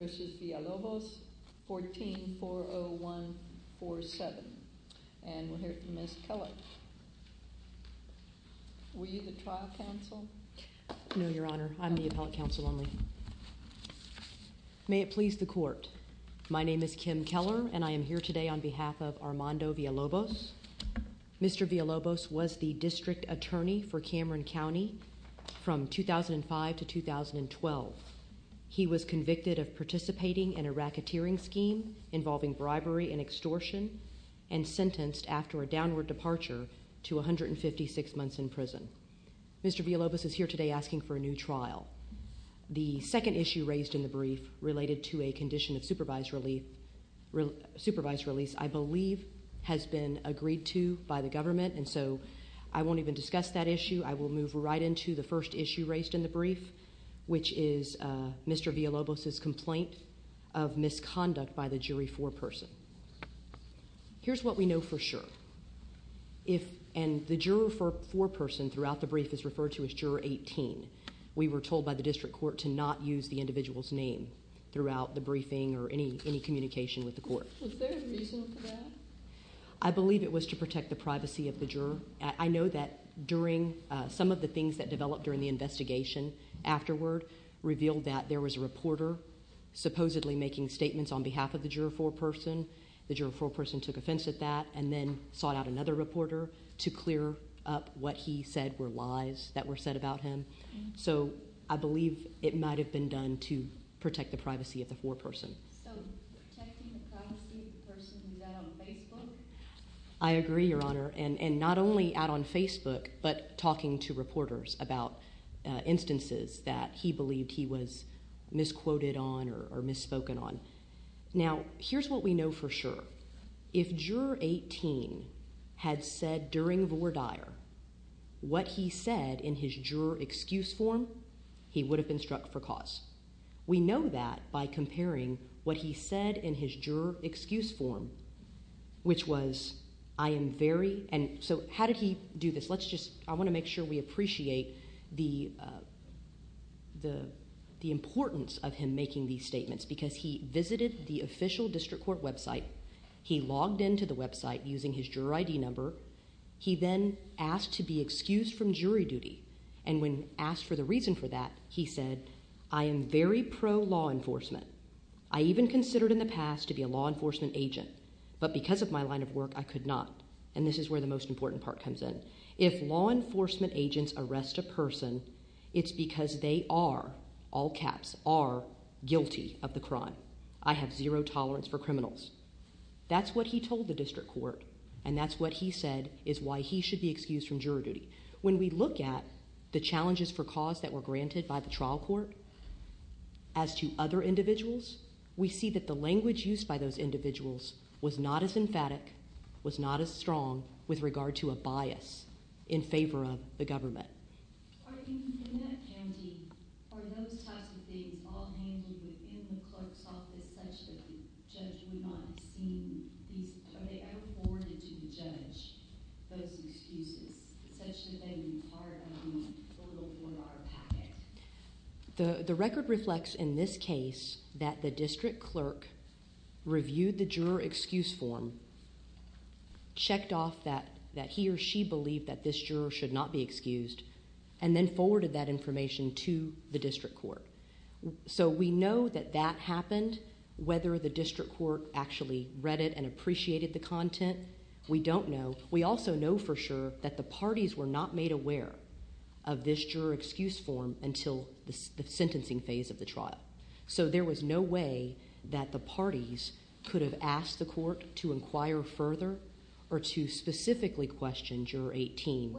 v. Villalobos, 14-40147. And we'll hear from Ms. Keller. Were you the trial counsel? No, your honor. I'm the appellate counsel only. May it please the court. My name is Kim Keller and I am here today on behalf of Armando Villalobos. Mr. Villalobos was the district attorney for Cameron County from 2005 to 2012. He was convicted of participating in a racketeering scheme involving bribery and extortion and sentenced after a downward departure to 156 months in prison. Mr. Villalobos is here today asking for a new trial. The second issue raised in the brief related to a condition of supervised release I believe has been agreed to by the government and so I won't even discuss that issue. I will move right into the first issue raised in the brief which is Mr. Villalobos's complaint of misconduct by the jury foreperson. Here's what we know for sure. The juror foreperson throughout the brief is referred to as juror 18. We were told by the district court to not use the individual's name throughout the briefing or any communication with the court. Was there a reason for that? I believe it was to protect the privacy of the juror. I know that during some of the things that developed during the investigation afterward revealed that there was a reporter supposedly making statements on behalf of the juror foreperson. The juror foreperson took offense at that and then sought out another reporter to clear up what he said were lies that were said about him. So I believe it might have been done to protect the privacy of the foreperson. So protecting the privacy of the person who's out on Facebook? I agree your honor and not only out on Facebook but talking to reporters about instances that he believed he was misquoted on or misspoken on. Now here's what we know for sure. If juror 18 had said during Vore Dyer what he said in his juror excuse form he would have been struck for cause. We know that by comparing what he said in his juror excuse form which was I am very and so how did he do this? Let's just I want to make sure we appreciate the the the importance of him making these statements because he visited the official district court website. He logged into the website using his juror ID number. He then asked to be excused from jury duty and when asked for the reason for that he said I am very pro-law enforcement. I even could not and this is where the most important part comes in. If law enforcement agents arrest a person it's because they are all caps are guilty of the crime. I have zero tolerance for criminals. That's what he told the district court and that's what he said is why he should be excused from juror duty. When we look at the challenges for cause that were granted by the trial court as to other individuals we see that the language used by those individuals was not as emphatic was not as strong with regard to a bias in favor of the government. The the record reflects in this case that the district clerk reviewed the juror excuse form and checked off that that he or she believed that this juror should not be excused and then forwarded that information to the district court. So we know that that happened whether the district court actually read it and appreciated the content we don't know. We also know for sure that the parties were not made aware of this juror excuse form until the sentencing phase of the trial. So there was no way that the parties could have asked the court to inquire further or to specifically question juror 18.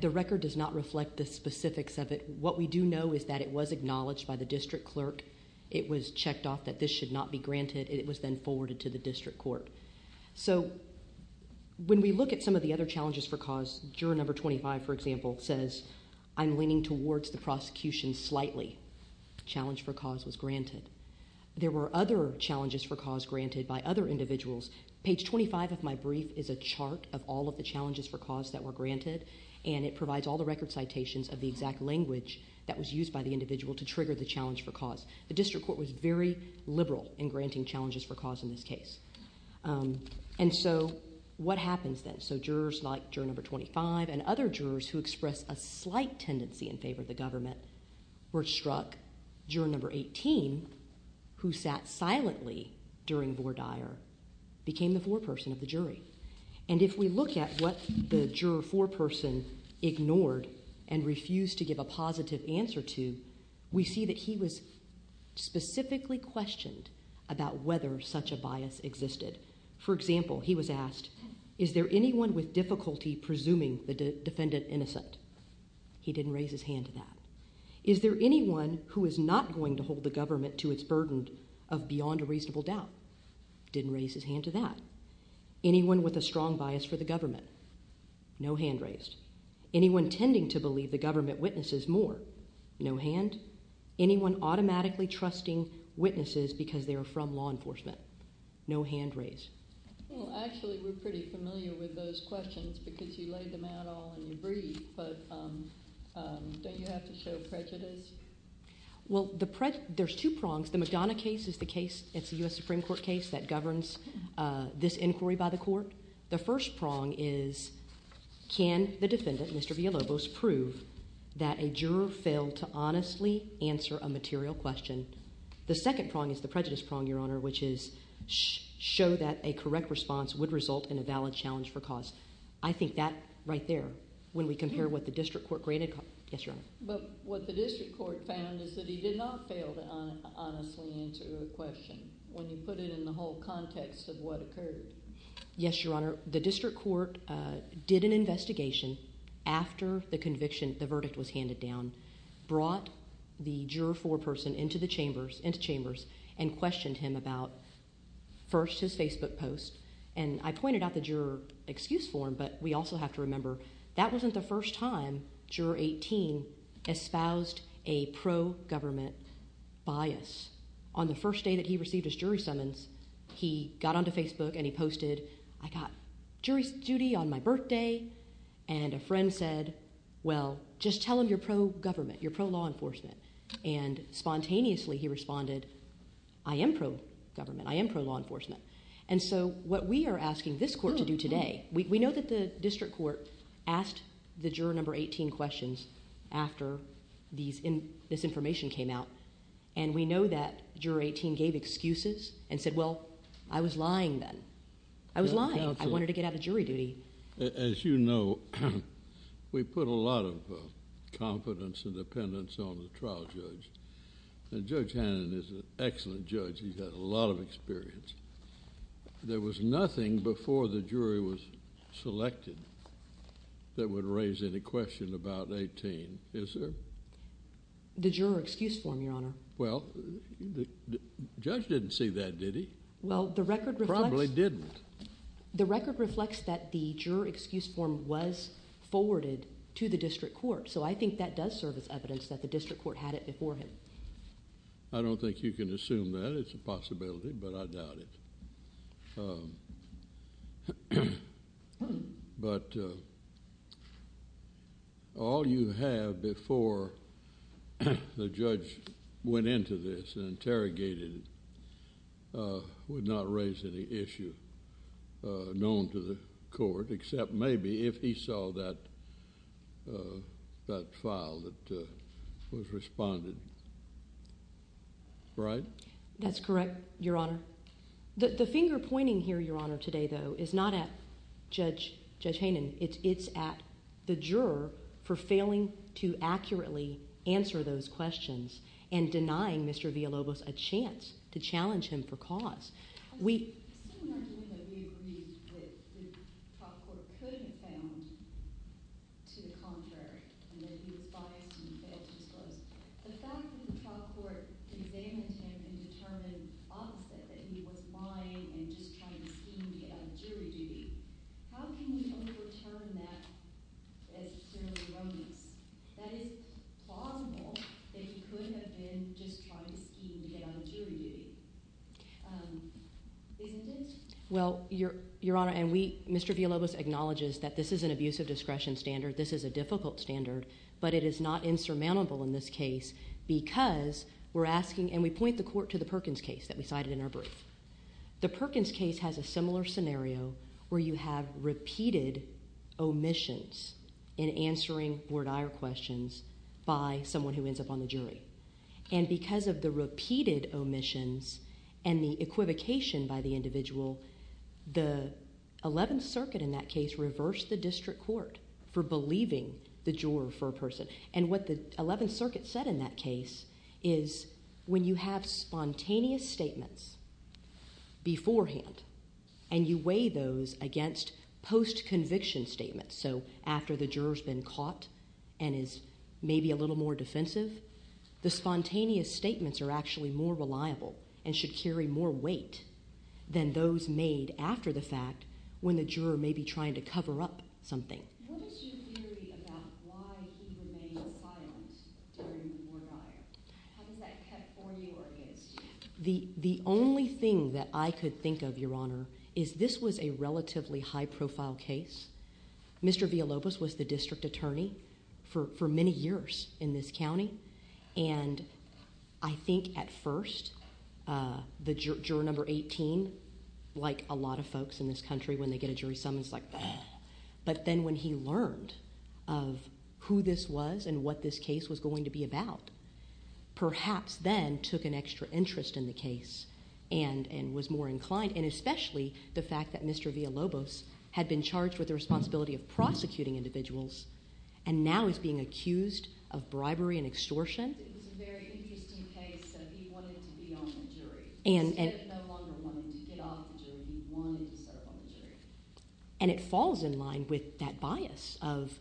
The record does not reflect the specifics of it. What we do know is that it was acknowledged by the district clerk. It was checked off that this should not be granted. It was then forwarded to the district court. So when we look at some of the other challenges for cause, juror number 25, for example, says I'm leaning towards the prosecution slightly. Challenge for cause was granted. There were other challenges for cause granted by other individuals. Page 25 of my brief is a chart of all of the challenges for cause that were granted and it provides all the record citations of the exact language that was used by the individual to trigger the challenge for cause. The district court was very liberal in granting challenges for cause in this case. And so what happens then? So jurors like juror number 25 and other jurors who express a slight tendency in favor of the government were struck. Juror number 18, who sat silently during Vore Dyer, became the foreperson of the jury. And if we look at what the juror foreperson ignored and refused to give a positive answer to, we see that he was specifically questioned about whether such a bias existed. For example, he was asked, is there anyone with difficulty presuming the defendant innocent? He didn't raise his hand to that. Is there anyone who is not going to hold the government to its burden of beyond a reasonable doubt? Didn't raise his hand to that. Anyone with a strong bias for the government witnesses more? No hand. Anyone automatically trusting witnesses because they're from law enforcement? No hand raised. Well, actually, we're pretty familiar with those questions because you laid them out all in your brief, but don't you have to show prejudice? Well, there's two prongs. The McDonough case is the case, it's a U.S. Supreme Court case that a juror failed to honestly answer a material question. The second prong is the prejudice prong, Your Honor, which is show that a correct response would result in a valid challenge for cause. I think that right there, when we compare what the district court granted. Yes, Your Honor. But what the district court found is that he did not fail to honestly answer the question when you put it in the whole context of what occurred. Yes, Your Honor. The district court did an investigation after the conviction, the verdict was handed down, brought the juror foreperson into the chambers and questioned him about first his Facebook post. And I pointed out the juror excuse form, but we also have to remember that wasn't the first time juror 18 espoused a pro-government bias. On the first day that he received his jury summons, he got onto Facebook and he posted, I got jury duty on my birthday. And a friend said, well, just tell him you're pro-government, you're pro-law enforcement. And spontaneously he responded, I am pro-government, I am pro-law enforcement. And so what we are asking this court to do today, we know that the district court asked the juror number 18 questions after this information came out. And we know that juror 18 gave excuses and said, well, I was lying then. I was lying. I wanted to get out of jury duty. As you know, we put a lot of confidence and dependence on the trial judge. And Judge Hannon is an excellent judge. He's had a lot of experience. There was nothing before the jury was selected that would raise any question about 18, is there? The juror excuse form, your honor. Well, the judge didn't see that, did he? Well, the record probably didn't. The record reflects that the juror excuse form was forwarded to the district court. So I think that does serve as evidence that the district court had it before him. I don't think you can went into this and interrogated, would not raise any issue known to the court, except maybe if he saw that file that was responded. Right? That's correct, your honor. The finger pointing here, your honor, today, though, is not at Judge Hannon. It's at the juror for failing to accurately answer those questions and denying Mr. Villalobos a chance to challenge him for cause. We agree that the trial court could have found to the contrary and that he was biased and failed to disclose. The fact that the trial court examined him and determined opposite, that he was lying and just trying to scheme to get out of jury duty. How can you overturn that as clearly wrongness? That is plausible that he could have been just trying to scheme to get out of jury duty, isn't it? Well, your honor, and Mr. Villalobos acknowledges that this is an abusive discretion standard. This is a difficult standard, but it is not insurmountable in this because we're asking, and we point the court to the Perkins case that we cited in our brief. The Perkins case has a similar scenario where you have repeated omissions in answering board ire questions by someone who ends up on the jury. And because of the repeated omissions and the equivocation by the individual, the 11th circuit in that case reversed the district court for believing the juror for a person. And what the 11th circuit said in that case is when you have spontaneous statements beforehand and you weigh those against post-conviction statements, so after the juror's been caught and is maybe a little more defensive, the spontaneous statements are actually more reliable and should carry more weight than those made after the fact when the juror may be trying to cover up something. The only thing that I could think of, your honor, is this was a relatively high-profile case. Mr. Villalobos was the district attorney for many years in this county, and I think at first the juror number 18, like a lot of folks in this country when they get a jury summons, but then when he learned of who this was and what this case was going to be about, perhaps then took an extra interest in the case and was more inclined, and especially the fact that Mr. Villalobos had been charged with the responsibility of prosecuting individuals and now is being accused of bribery and extortion. And it falls in line with that bias of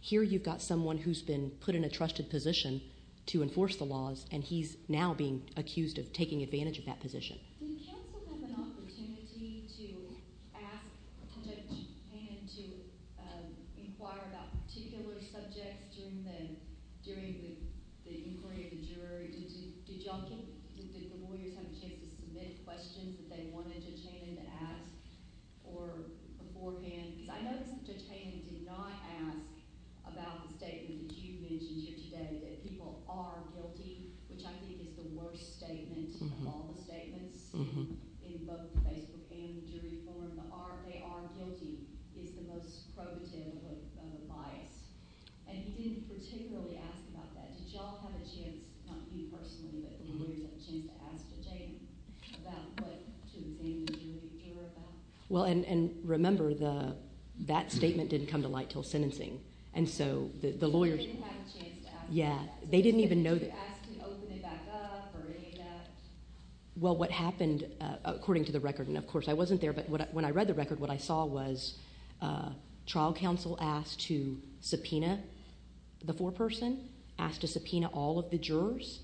here you've got someone who's been put in a trusted position to enforce the laws and he's now being accused of taking advantage of that position. Did the lawyers have a chance to submit questions that they wanted Judge Hayden to ask beforehand? Because I noticed that Judge Hayden did not ask about the statement that you mentioned here today, that people are guilty, which I think is the worst statement of all the statements in both the Facebook and the jury forum. They are guilty is the most probative of a bias, and he didn't particularly ask about that. Did y'all have a chance, not you personally, but the lawyers had a chance to ask Judge Hayden about what to examine the jury about? Well, and remember, that statement didn't come to light until sentencing. And so the lawyers... They didn't have a chance to ask? Yeah, they didn't even know... Did you ask to open it back up or any of that? Well, what happened, according to the record, and of course I wasn't there, but when I read the record, what I saw was trial counsel asked to subpoena the foreperson, asked to subpoena all of the jurors.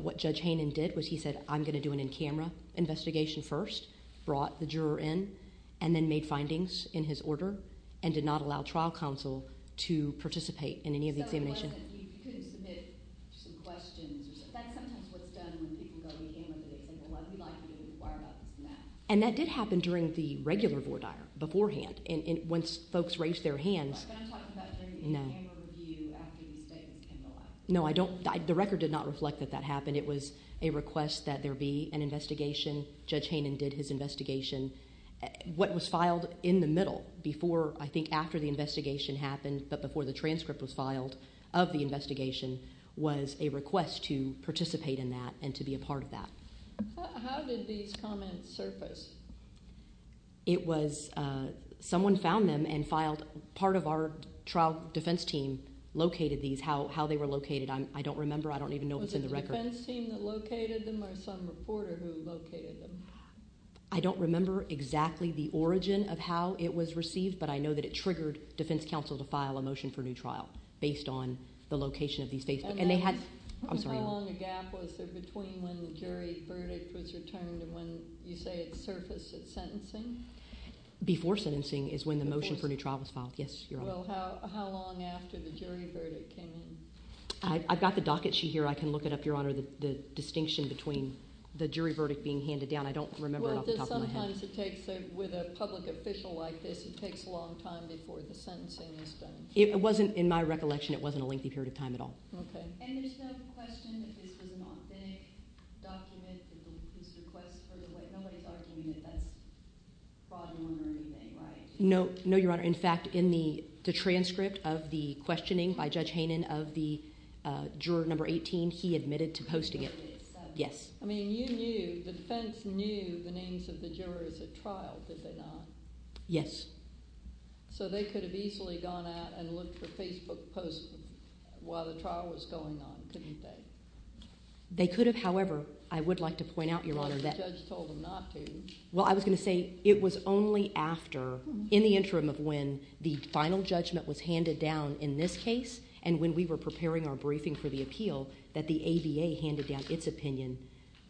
What Judge Hayden did was he said, I'm going to do an in-camera investigation first, brought the juror in, and then made findings in his order, and did not allow trial counsel to participate in any of the examination. So it wasn't, he couldn't submit some questions or something? That's sometimes what's done when people go in camera, they say, well, we'd like you to wire about this and that. And that did happen during the regular voir dire, beforehand, once folks raised their hands. But I'm talking about during the in-camera review after the statements came to light. No, I don't... The record did not reflect that that happened. It was a request that there be an investigation. Judge Hayden did his investigation. What was filed in the middle, before, I think after the investigation happened, but before the transcript was filed of the investigation, was a request to participate in that and to be a part of that. How did these comments surface? It was, someone found them and filed, part of our trial defense team located these. How they were located, I don't remember. I don't even know what's in the record. Was it the defense team that located them, or some reporter who located them? I don't remember exactly the origin of how it was received, but I know that it triggered defense counsel to file a motion for new trial, based on the location of these faces. And then, how long a gap was there between when the jury verdict was returned and when, you say, it surfaced at sentencing? Before sentencing is when the motion for new trial was filed. Yes, Your Honor. Well, how long after the jury verdict came in? I've got the docket sheet here. I can look it up, Your Honor, the distinction between the jury verdict being handed down. I don't remember it off the top of my head. Well, sometimes it takes, with a public official like this, it takes a long time before the sentencing is done. It wasn't, in my recollection, it wasn't a lengthy period of time at all. Okay. And there's no question that this was an authentic document that was requested by the judge. Nobody's arguing that that's fraudulent or anything, right? No, Your Honor. In fact, in the transcript of the questioning by Judge Hainan of the juror number 18, he admitted to posting it. Yes. I mean, you knew, the defense knew the names of the jurors at trial, did they not? Yes. So they could have easily gone out and looked for Facebook posts while the trial was going on, couldn't they? They could have. However, I would like to point out, Your Honor, that— The judge told them not to. Well, I was going to say it was only after, in the interim of when the final judgment was handed down in this case, and when we were preparing our briefing for the appeal, that the ABA handed down its opinion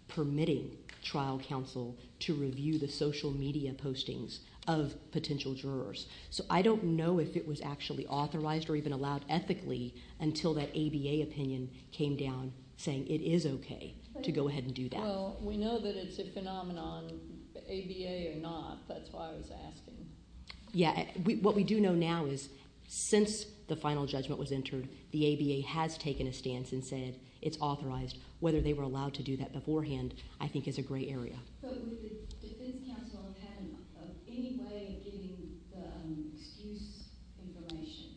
permitting trial counsel to review the social media postings of potential jurors. So I don't know if it was actually authorized or even allowed ethically until that ABA opinion came down saying it is okay to go ahead and do that. Well, we know that it's a phenomenon, ABA or not. That's why I was asking. Yeah, what we do know now is since the final judgment was entered, the ABA has taken a stance and said it's authorized. Whether they were allowed to do that beforehand, I think, is a gray area. But would the defense counsel have had any way of getting the excuse information?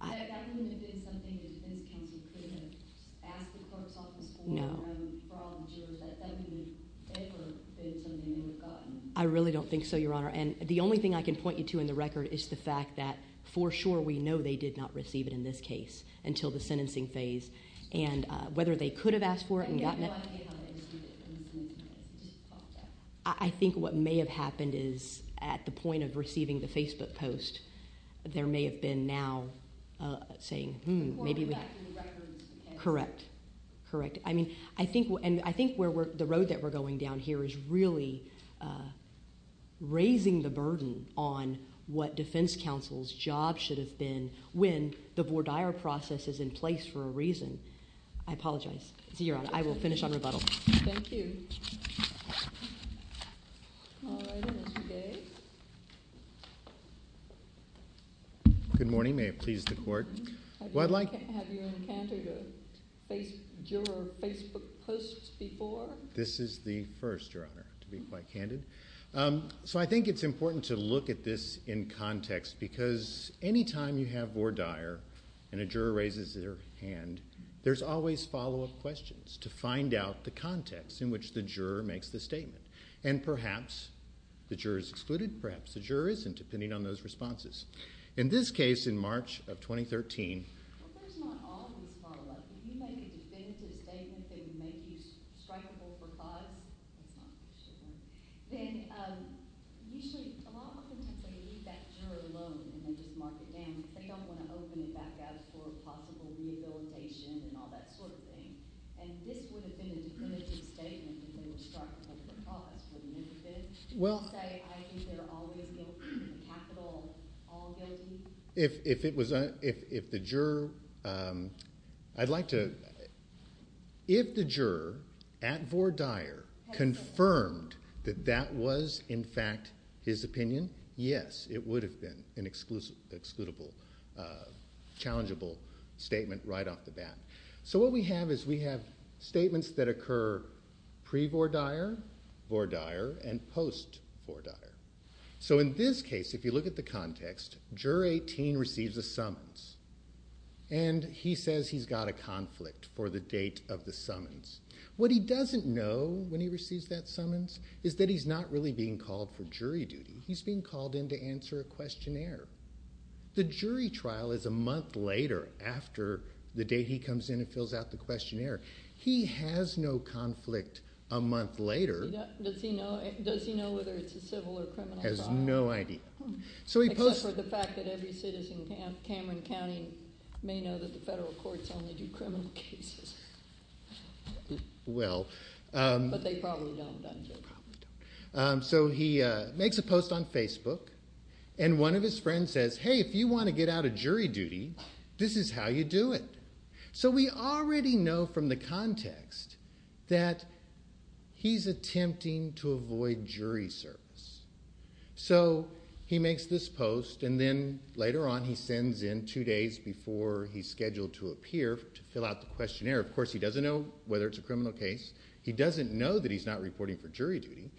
That wouldn't have been something the defense counsel could have asked the court's office for— No. —for all the jurors. That wouldn't have ever been something they would have gotten. I really don't think so, Your Honor. And the only thing I can point you to in the record is the fact that, for sure, we know they did not receive it in this case until the sentencing phase. And whether they could have asked for it and gotten it— I have no idea how they received it in the sentencing phase. It just popped up. I think what may have happened is at the point of receiving the Facebook post, there may have been now saying, hmm, maybe we— The court would have had the records and— Correct. Correct. I mean, I think where we're— the road that we're going down here is really raising the burden on what defense counsel's job should have been when the voir dire process is in place for a reason. I apologize. So, Your Honor, I will finish on rebuttal. Thank you. All right. Good morning. May it please the court. I'd like— Have you encountered a juror Facebook post before? This is the first, Your Honor, to be quite candid. So, I think it's important to look at this in context because any time you have voir dire and a juror raises their hand, there's always follow-up questions to find out the context in which the juror makes the statement. And perhaps the juror is excluded. Perhaps the juror isn't, depending on those responses. In this case, in March of 2013— Well, there's not always follow-up. If you make a definitive statement, they would make you strikable for cause. That's not for sure. Then, usually, a lot of times, they leave that juror alone and then just mark it down. They don't want to open it back up for possible rehabilitation and all that sort of thing. And this would have been a definitive statement if they were strikable for cause, wouldn't it have been? Do you say, I think they're always guilty, in capital, all guilty? If it was—if the juror—I'd like to— If the juror, at voir dire, confirmed that that was, in fact, his opinion, yes, it would have been an excludable, challengeable statement right off the bat. So, what we have is we have statements that occur pre-voir dire, voir dire, and post-voir dire. So, in this case, if you look at the context, Juror 18 receives a summons, and he says he's got a conflict for the date of the summons. What he doesn't know, when he receives that summons, is that he's not really being called for jury duty. He's being called in to answer a questionnaire. The jury trial is a month later, after the day he comes in and fills out the questionnaire. He has no conflict a month later. Does he know whether it's a civil or criminal crime? Has no idea. Except for the fact that every citizen in Cameron County may know that the federal courts only do criminal cases. But they probably don't, don't they? They probably don't. So, he makes a post on Facebook, and one of his friends says, hey, if you want to get out of jury duty, this is how you do it. So, we already know from the context that he's attempting to avoid jury service. So, he makes this post, and then later on, he sends in two days before he's scheduled to appear to fill out the questionnaire. Of course, he doesn't know whether it's a criminal case. He doesn't know that he's not reporting for jury duty.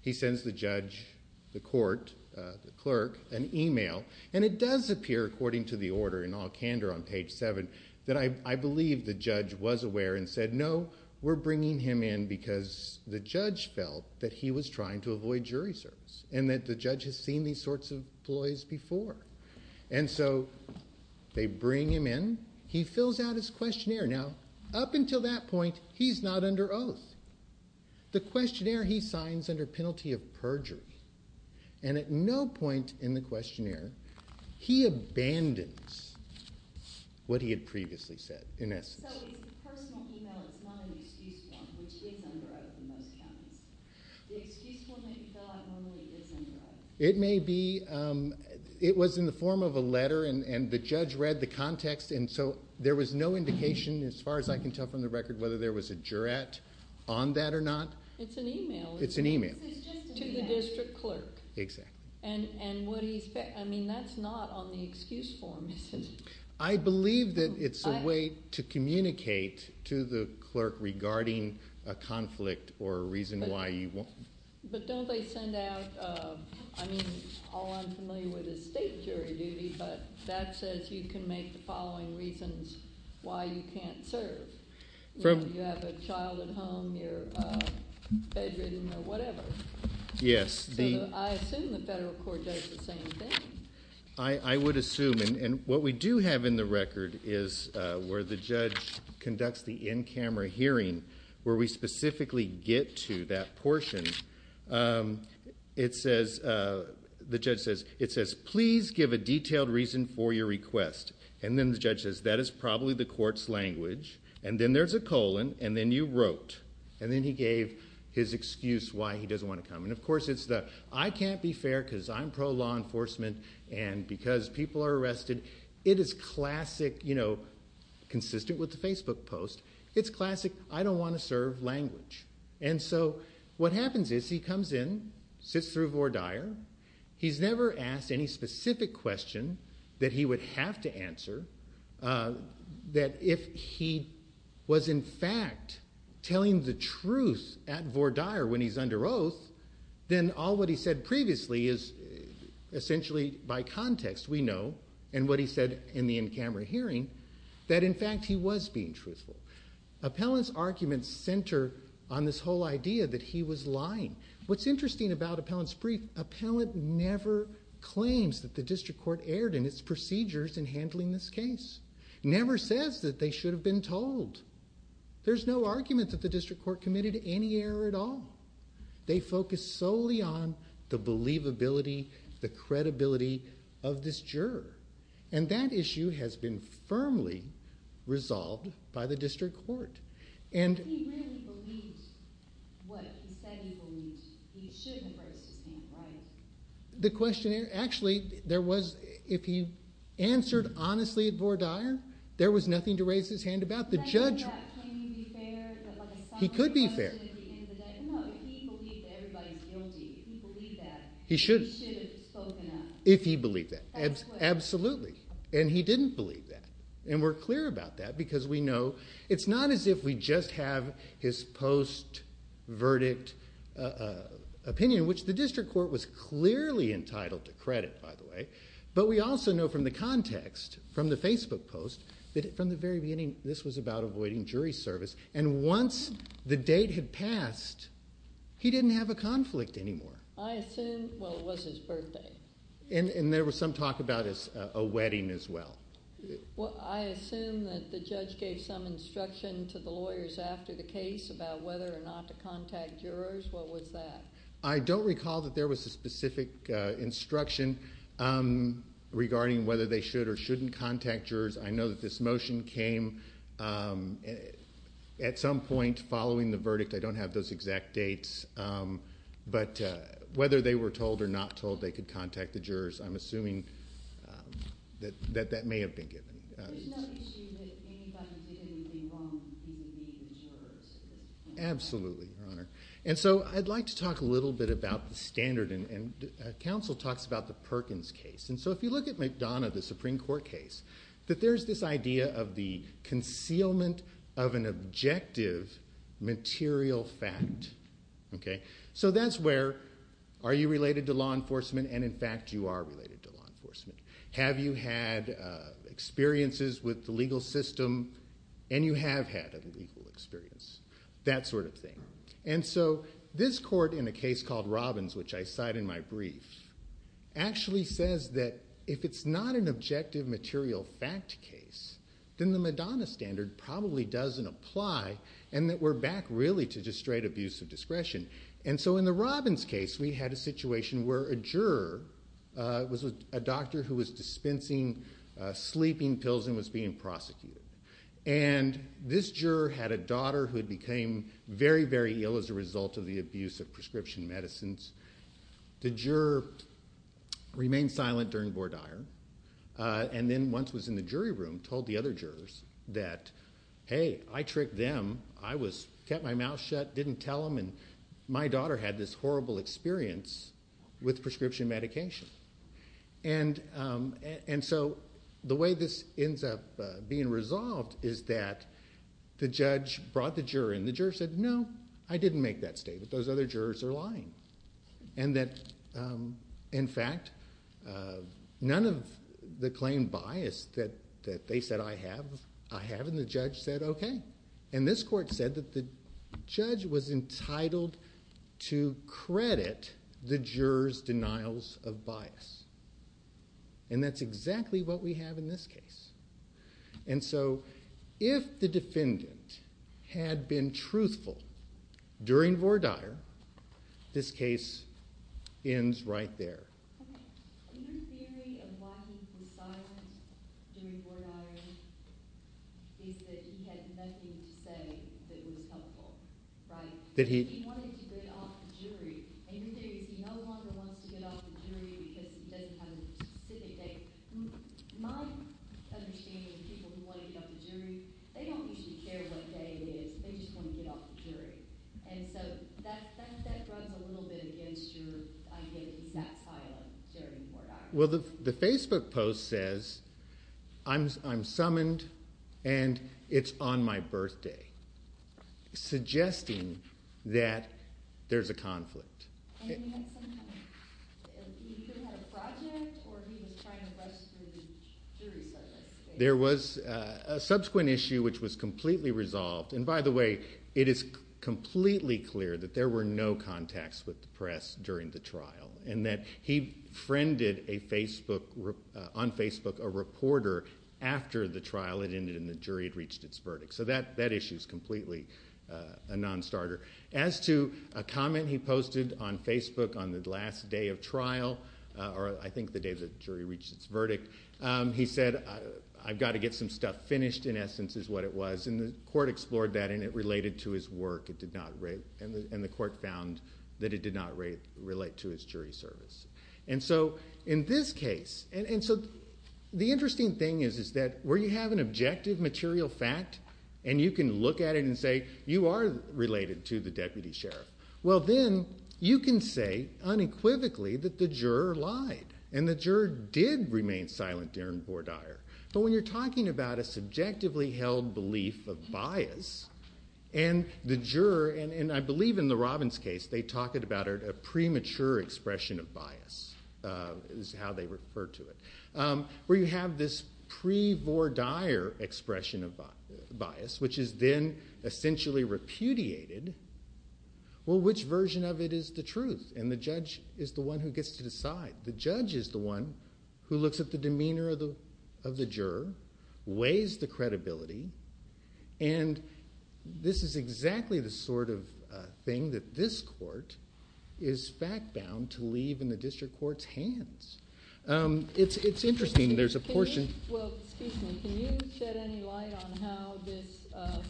He sends the judge, the court, the clerk, an email, and it does appear, according to the order, in all candor on page seven, that I believe the judge was aware and said, no, we're bringing him in because the judge felt that he was trying to avoid jury service, and that the judge has seen these sorts of ploys before. And so, they bring him in. He fills out his questionnaire. Now, up until that point, he's not under oath. The questionnaire, he signs under penalty of perjury. And at no point in the questionnaire, he abandons what he had previously said, in essence. So, it's a personal email. It's not an excused one, which is under oath in most counties. The excused one that you fill out normally is under oath. It may be. It was in the form of a letter, and the judge read the context, and so there was no indication, as far as I can tell from the record, whether there was a jurat on that or not. It's an email. It's an email. It's just an email. To the district clerk. Exactly. And what do you expect? I mean, that's not on the excused form, isn't it? I believe that it's a way to communicate to the clerk regarding a conflict or a reason why you won't. But don't they send out, I mean, all I'm familiar with is state jury duty, but that says you can make the following reasons why you can't serve. You have a child at home, you're bedridden or whatever. Yes. I assume the federal court does the same thing. I would assume. And what we do have in the record is where the judge conducts the in-camera hearing, where we specifically get to that portion. The judge says, it says, please give a detailed reason for your request. And then the judge says, that is probably the court's language. And then there's a colon, and then you wrote. And then he gave his excuse why he doesn't want to come. And of course, it's the, I can't be fair because I'm pro-law enforcement and because people are arrested. It is classic, you know, consistent with the Facebook post. It's classic. I don't want to serve language. And so what happens is he comes in, sits through Vore Dyer. He's never asked any specific question that he would have to answer. That if he was in fact telling the truth at Vore Dyer when he's under oath, then all what he said previously is essentially by context, we know. And what he said in the in-camera hearing, that in fact, he was being truthful. Appellant's arguments center on this whole idea that he was lying. What's interesting about appellant's brief, appellant never claims that the district court erred in its procedures in handling this case. Never says that they should have been told. There's no argument that the district court committed any error at all. They focus solely on the believability, the credibility of this juror. And that issue has been firmly resolved by the district court. And he really believed what he said he believed. He shouldn't have raised his hand, right? The question, actually, there was, if he answered honestly at Vore Dyer, there was nothing to raise his hand about. The judge, he could be fair. He believed that everybody's guilty. If he believed that, he should have spoken up. If he believed that, absolutely. And he didn't believe that. And we're clear about that because we know, it's not as if we just have his post verdict opinion, which the district court was clearly entitled to credit, by the way. But we also know from the context, from the Facebook post, that from the very beginning, this was about avoiding jury service. And once the date had passed, he didn't have a conflict anymore. I assume, well, it was his birthday. And there was some talk about a wedding as well. I assume that the judge gave some instruction to the lawyers after the case about whether or not to contact jurors. What was that? I don't recall that there was a specific instruction regarding whether they should or shouldn't contact jurors. I know that this motion came at some point following the verdict. I don't have those exact dates. But whether they were told or not told, they could contact the jurors. I'm assuming that that may have been given. There's no issue that anybody did anything wrong vis-a-vis the jurors at this point. Absolutely, Your Honor. And so I'd like to talk a little bit about the standard. And counsel talks about the Perkins case. And so if you look at McDonough, the Supreme Court case, that there's this idea of the concealment of an objective material fact. So that's where, are you related to law enforcement? And in fact, you are related to law enforcement. Have you had experiences with the legal system? And you have had a legal experience, that sort of thing. And so this court in a case called Robbins, which I cite in my brief, actually says that if it's not an objective material fact case, then the McDonough standard probably doesn't apply. And that we're back, really, to just straight abuse of discretion. And so in the Robbins case, we had a situation where a juror was a doctor who was dispensing sleeping pills and was being prosecuted. And this juror had a daughter who had became very, very ill as a result of the abuse of prescription medicines. The juror remained silent during Bordier. And then once was in the jury room, told the other jurors that, hey, I tricked them. I kept my mouth shut, didn't tell them. And my daughter had this horrible experience with prescription medication. And so the way this ends up being resolved is that the judge brought the juror in. The juror said, no, I didn't make that statement. Those other jurors are lying. And that, in fact, none of the claimed bias that they said I have, I have. And the judge said, OK. And this court said that the judge was entitled to credit the juror's denials of bias. And that's exactly what we have in this case. And so if the defendant had been truthful during Bordier, this case ends right there. OK. And your theory of why he was silent during Bordier is that he had nothing to say that was helpful, right? That he wanted to get off the jury. And your theory is he no longer wants to get off the jury because he doesn't have a specific date. My understanding of people who want to get off the jury, they don't usually care what day it is. They just want to get off the jury. And so that runs a little bit against your idea that he sat silent during Bordier. Well, the Facebook post says, I'm summoned and it's on my birthday, suggesting that there's a conflict. And he had some kind of, he either had a project or he was trying to rush through the jury service. There was a subsequent issue which was completely resolved. And by the way, it is completely clear that there were no contacts with the press during the trial. And that he friended on Facebook a reporter after the trial had ended and the jury had reached its verdict. So that issue is completely a non-starter. As to a comment he posted on Facebook on the last day of trial, or I think the day the jury reached its verdict, he said, I've got to get some stuff finished, in essence, is what it was. And the court explored that. And it related to his work. It did not relate. And the court found that it did not relate to his jury service. And so in this case, and so the interesting thing is that where you have an objective material fact, and you can look at it and say, you are related to the deputy sheriff, well, then you can say unequivocally that the juror lied. And the juror did remain silent during Bordier. But when you're talking about a subjectively held belief of bias, and the juror, and I believe in the Robbins case, they talk about a premature expression of bias, is how they refer to it, where you have this pre-Bordier expression of bias, which is then essentially repudiated, well, which version of it is the truth? And the judge is the one who gets to decide. The judge is the one who looks at the demeanor of the juror, weighs the credibility. And this is exactly the sort of thing that this court is fact-bound to leave in the district court's hands. It's interesting. There's a portion. Well, excuse me. Can you shed any light on how this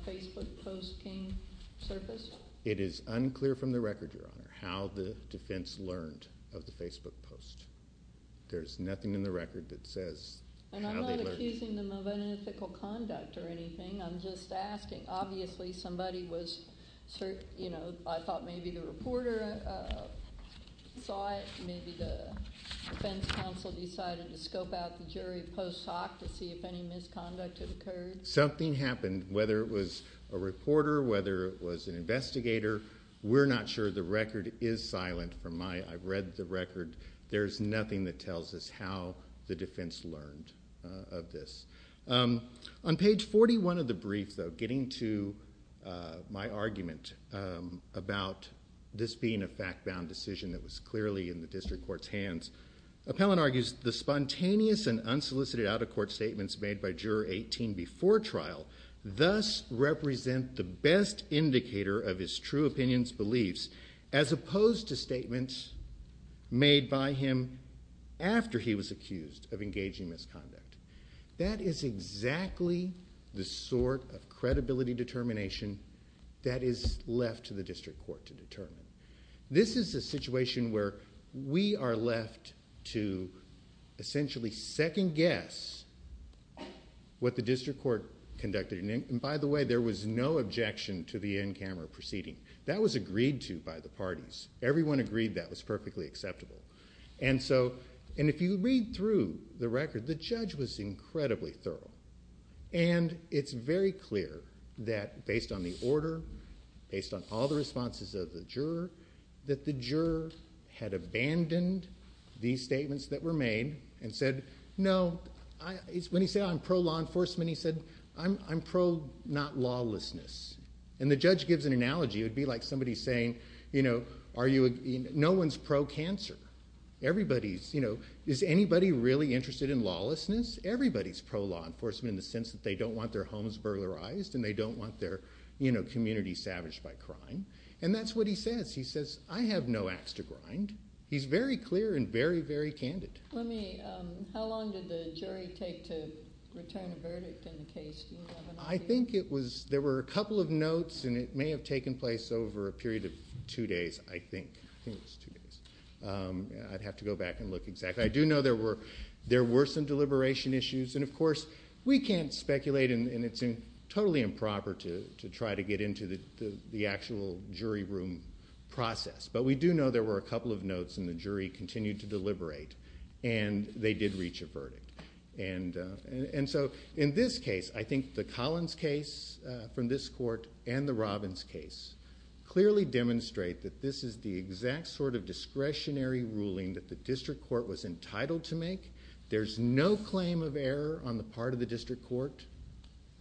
Facebook posting surfaced? It is unclear from the record, Your Honor, how the defense learned of the Facebook post. There's nothing in the record that says how they learned. And I'm not accusing them of unethical conduct or anything. I'm just asking. Obviously, somebody was certain. You know, I thought maybe the reporter saw it. Maybe the defense counsel decided to scope out the jury post hoc to see if any misconduct had occurred. Something happened. Whether it was a reporter, whether it was an investigator, we're not sure. The record is silent from my, I've read the record. There's nothing that tells us how the defense learned of this. On page 41 of the brief, though, getting to my argument about this being a fact-bound decision that was clearly in the district court's hands, Appellant argues the spontaneous and unsolicited out-of-court statements made by Juror 18 before trial thus represent the best indicator of his true opinion's beliefs as opposed to statements made by him after he was accused of engaging misconduct. That is exactly the sort of credibility determination that is left to the district court to determine. This is a situation where we are left to essentially second guess what the district court conducted. By the way, there was no objection to the in-camera proceeding. That was agreed to by the parties. Everyone agreed that was perfectly acceptable. And if you read through the record, the judge was incredibly thorough. And it's very clear that based on the order, based on all the responses of the juror, that the juror had abandoned these statements that were made and said, no. When he said, I'm pro-law enforcement, he said, I'm pro-not lawlessness. And the judge gives an analogy. It would be like somebody saying, no one's pro-cancer. Is anybody really interested in lawlessness? Everybody's pro-law enforcement in the sense that they don't want their homes burglarized and they don't want their community savaged by crime. And that's what he says. He says, I have no ax to grind. He's very clear and very, very candid. Let me, how long did the jury take to return a verdict in the case? I think it was, there were a couple of notes and it may have taken place over a period of two days, I think, I think it was two days. I'd have to go back and look exactly. I do know there were some deliberation issues. And of course, we can't speculate and it's totally improper to try to get into the actual jury room process. But we do know there were a couple of notes and the jury continued to deliberate. And they did reach a verdict. And so in this case, I think the Collins case from this court and the Robbins case clearly demonstrate that this is the exact sort of discretionary ruling that the district court was entitled to make. There's no claim of error on the part of the district court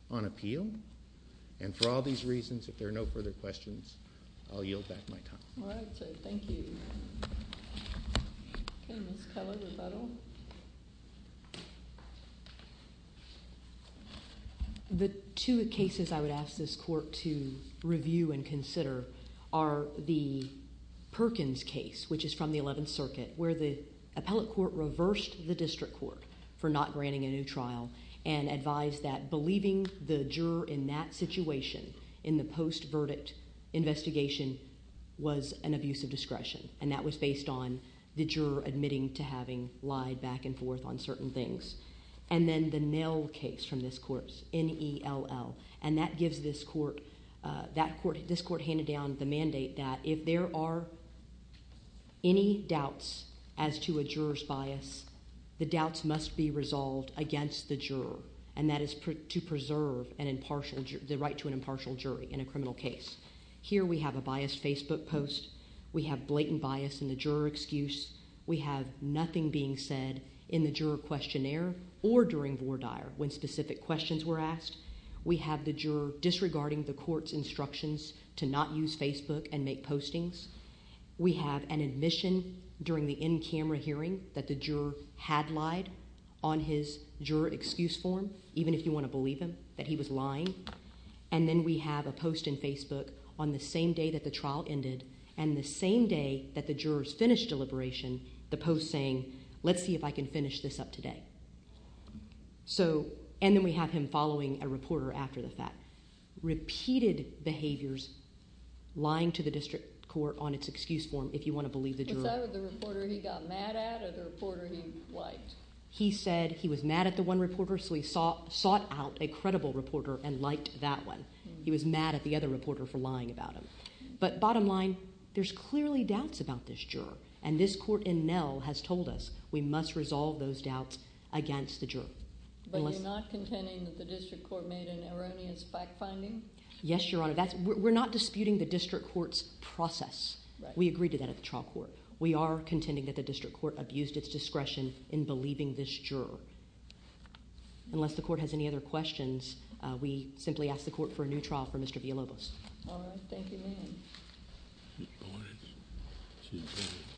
on appeal. And for all these reasons, if there are no further questions, I'll yield back my time. All right, so thank you. Okay, Ms. Keller, rebuttal. The two cases I would ask this court to review and consider are the Perkins case, which is from the 11th circuit, where the appellate court reversed the district court for not granting a new trial and advised that believing the juror in that situation in the post-verdict investigation was an abuse of discretion. And that was based on the juror admitting to having lied back and forth on certain things. And then the Nell case from this court, N-E-L-L. And that gives this court, this court handed down the mandate that if there are any doubts as to a juror's bias, the doubts must be resolved against the juror. And that is to preserve an impartial, the right to an impartial jury in a criminal case. Here we have a biased Facebook post. We have blatant bias in the juror excuse. We have nothing being said in the juror questionnaire or during voir dire when specific questions were asked. We have the juror disregarding the court's instructions to not use Facebook and make postings. We have an admission during the in-camera hearing that the juror had lied on his juror excuse form, even if you want to believe him, that he was lying. And then we have a post in Facebook on the same day that the trial ended and the same day that the jurors finished deliberation, the post saying, let's see if I can finish this up today. So, and then we have him following a reporter after the fact. Repeated behaviors lying to the district court on its excuse form, if you want to believe the juror. Was that what the reporter he got mad at or the reporter he liked? He said he was mad at the one reporter, sought out a credible reporter and liked that one. He was mad at the other reporter for lying about him. But bottom line, there's clearly doubts about this juror. And this court in Nell has told us we must resolve those doubts against the juror. But you're not contending that the district court made an erroneous fact-finding? Yes, Your Honor. We're not disputing the district court's process. We agreed to that at the trial court. We are contending that the district court abused its discretion in believing this juror. Unless the court has any other questions, we simply ask the court for a new trial for Mr. Villalobos.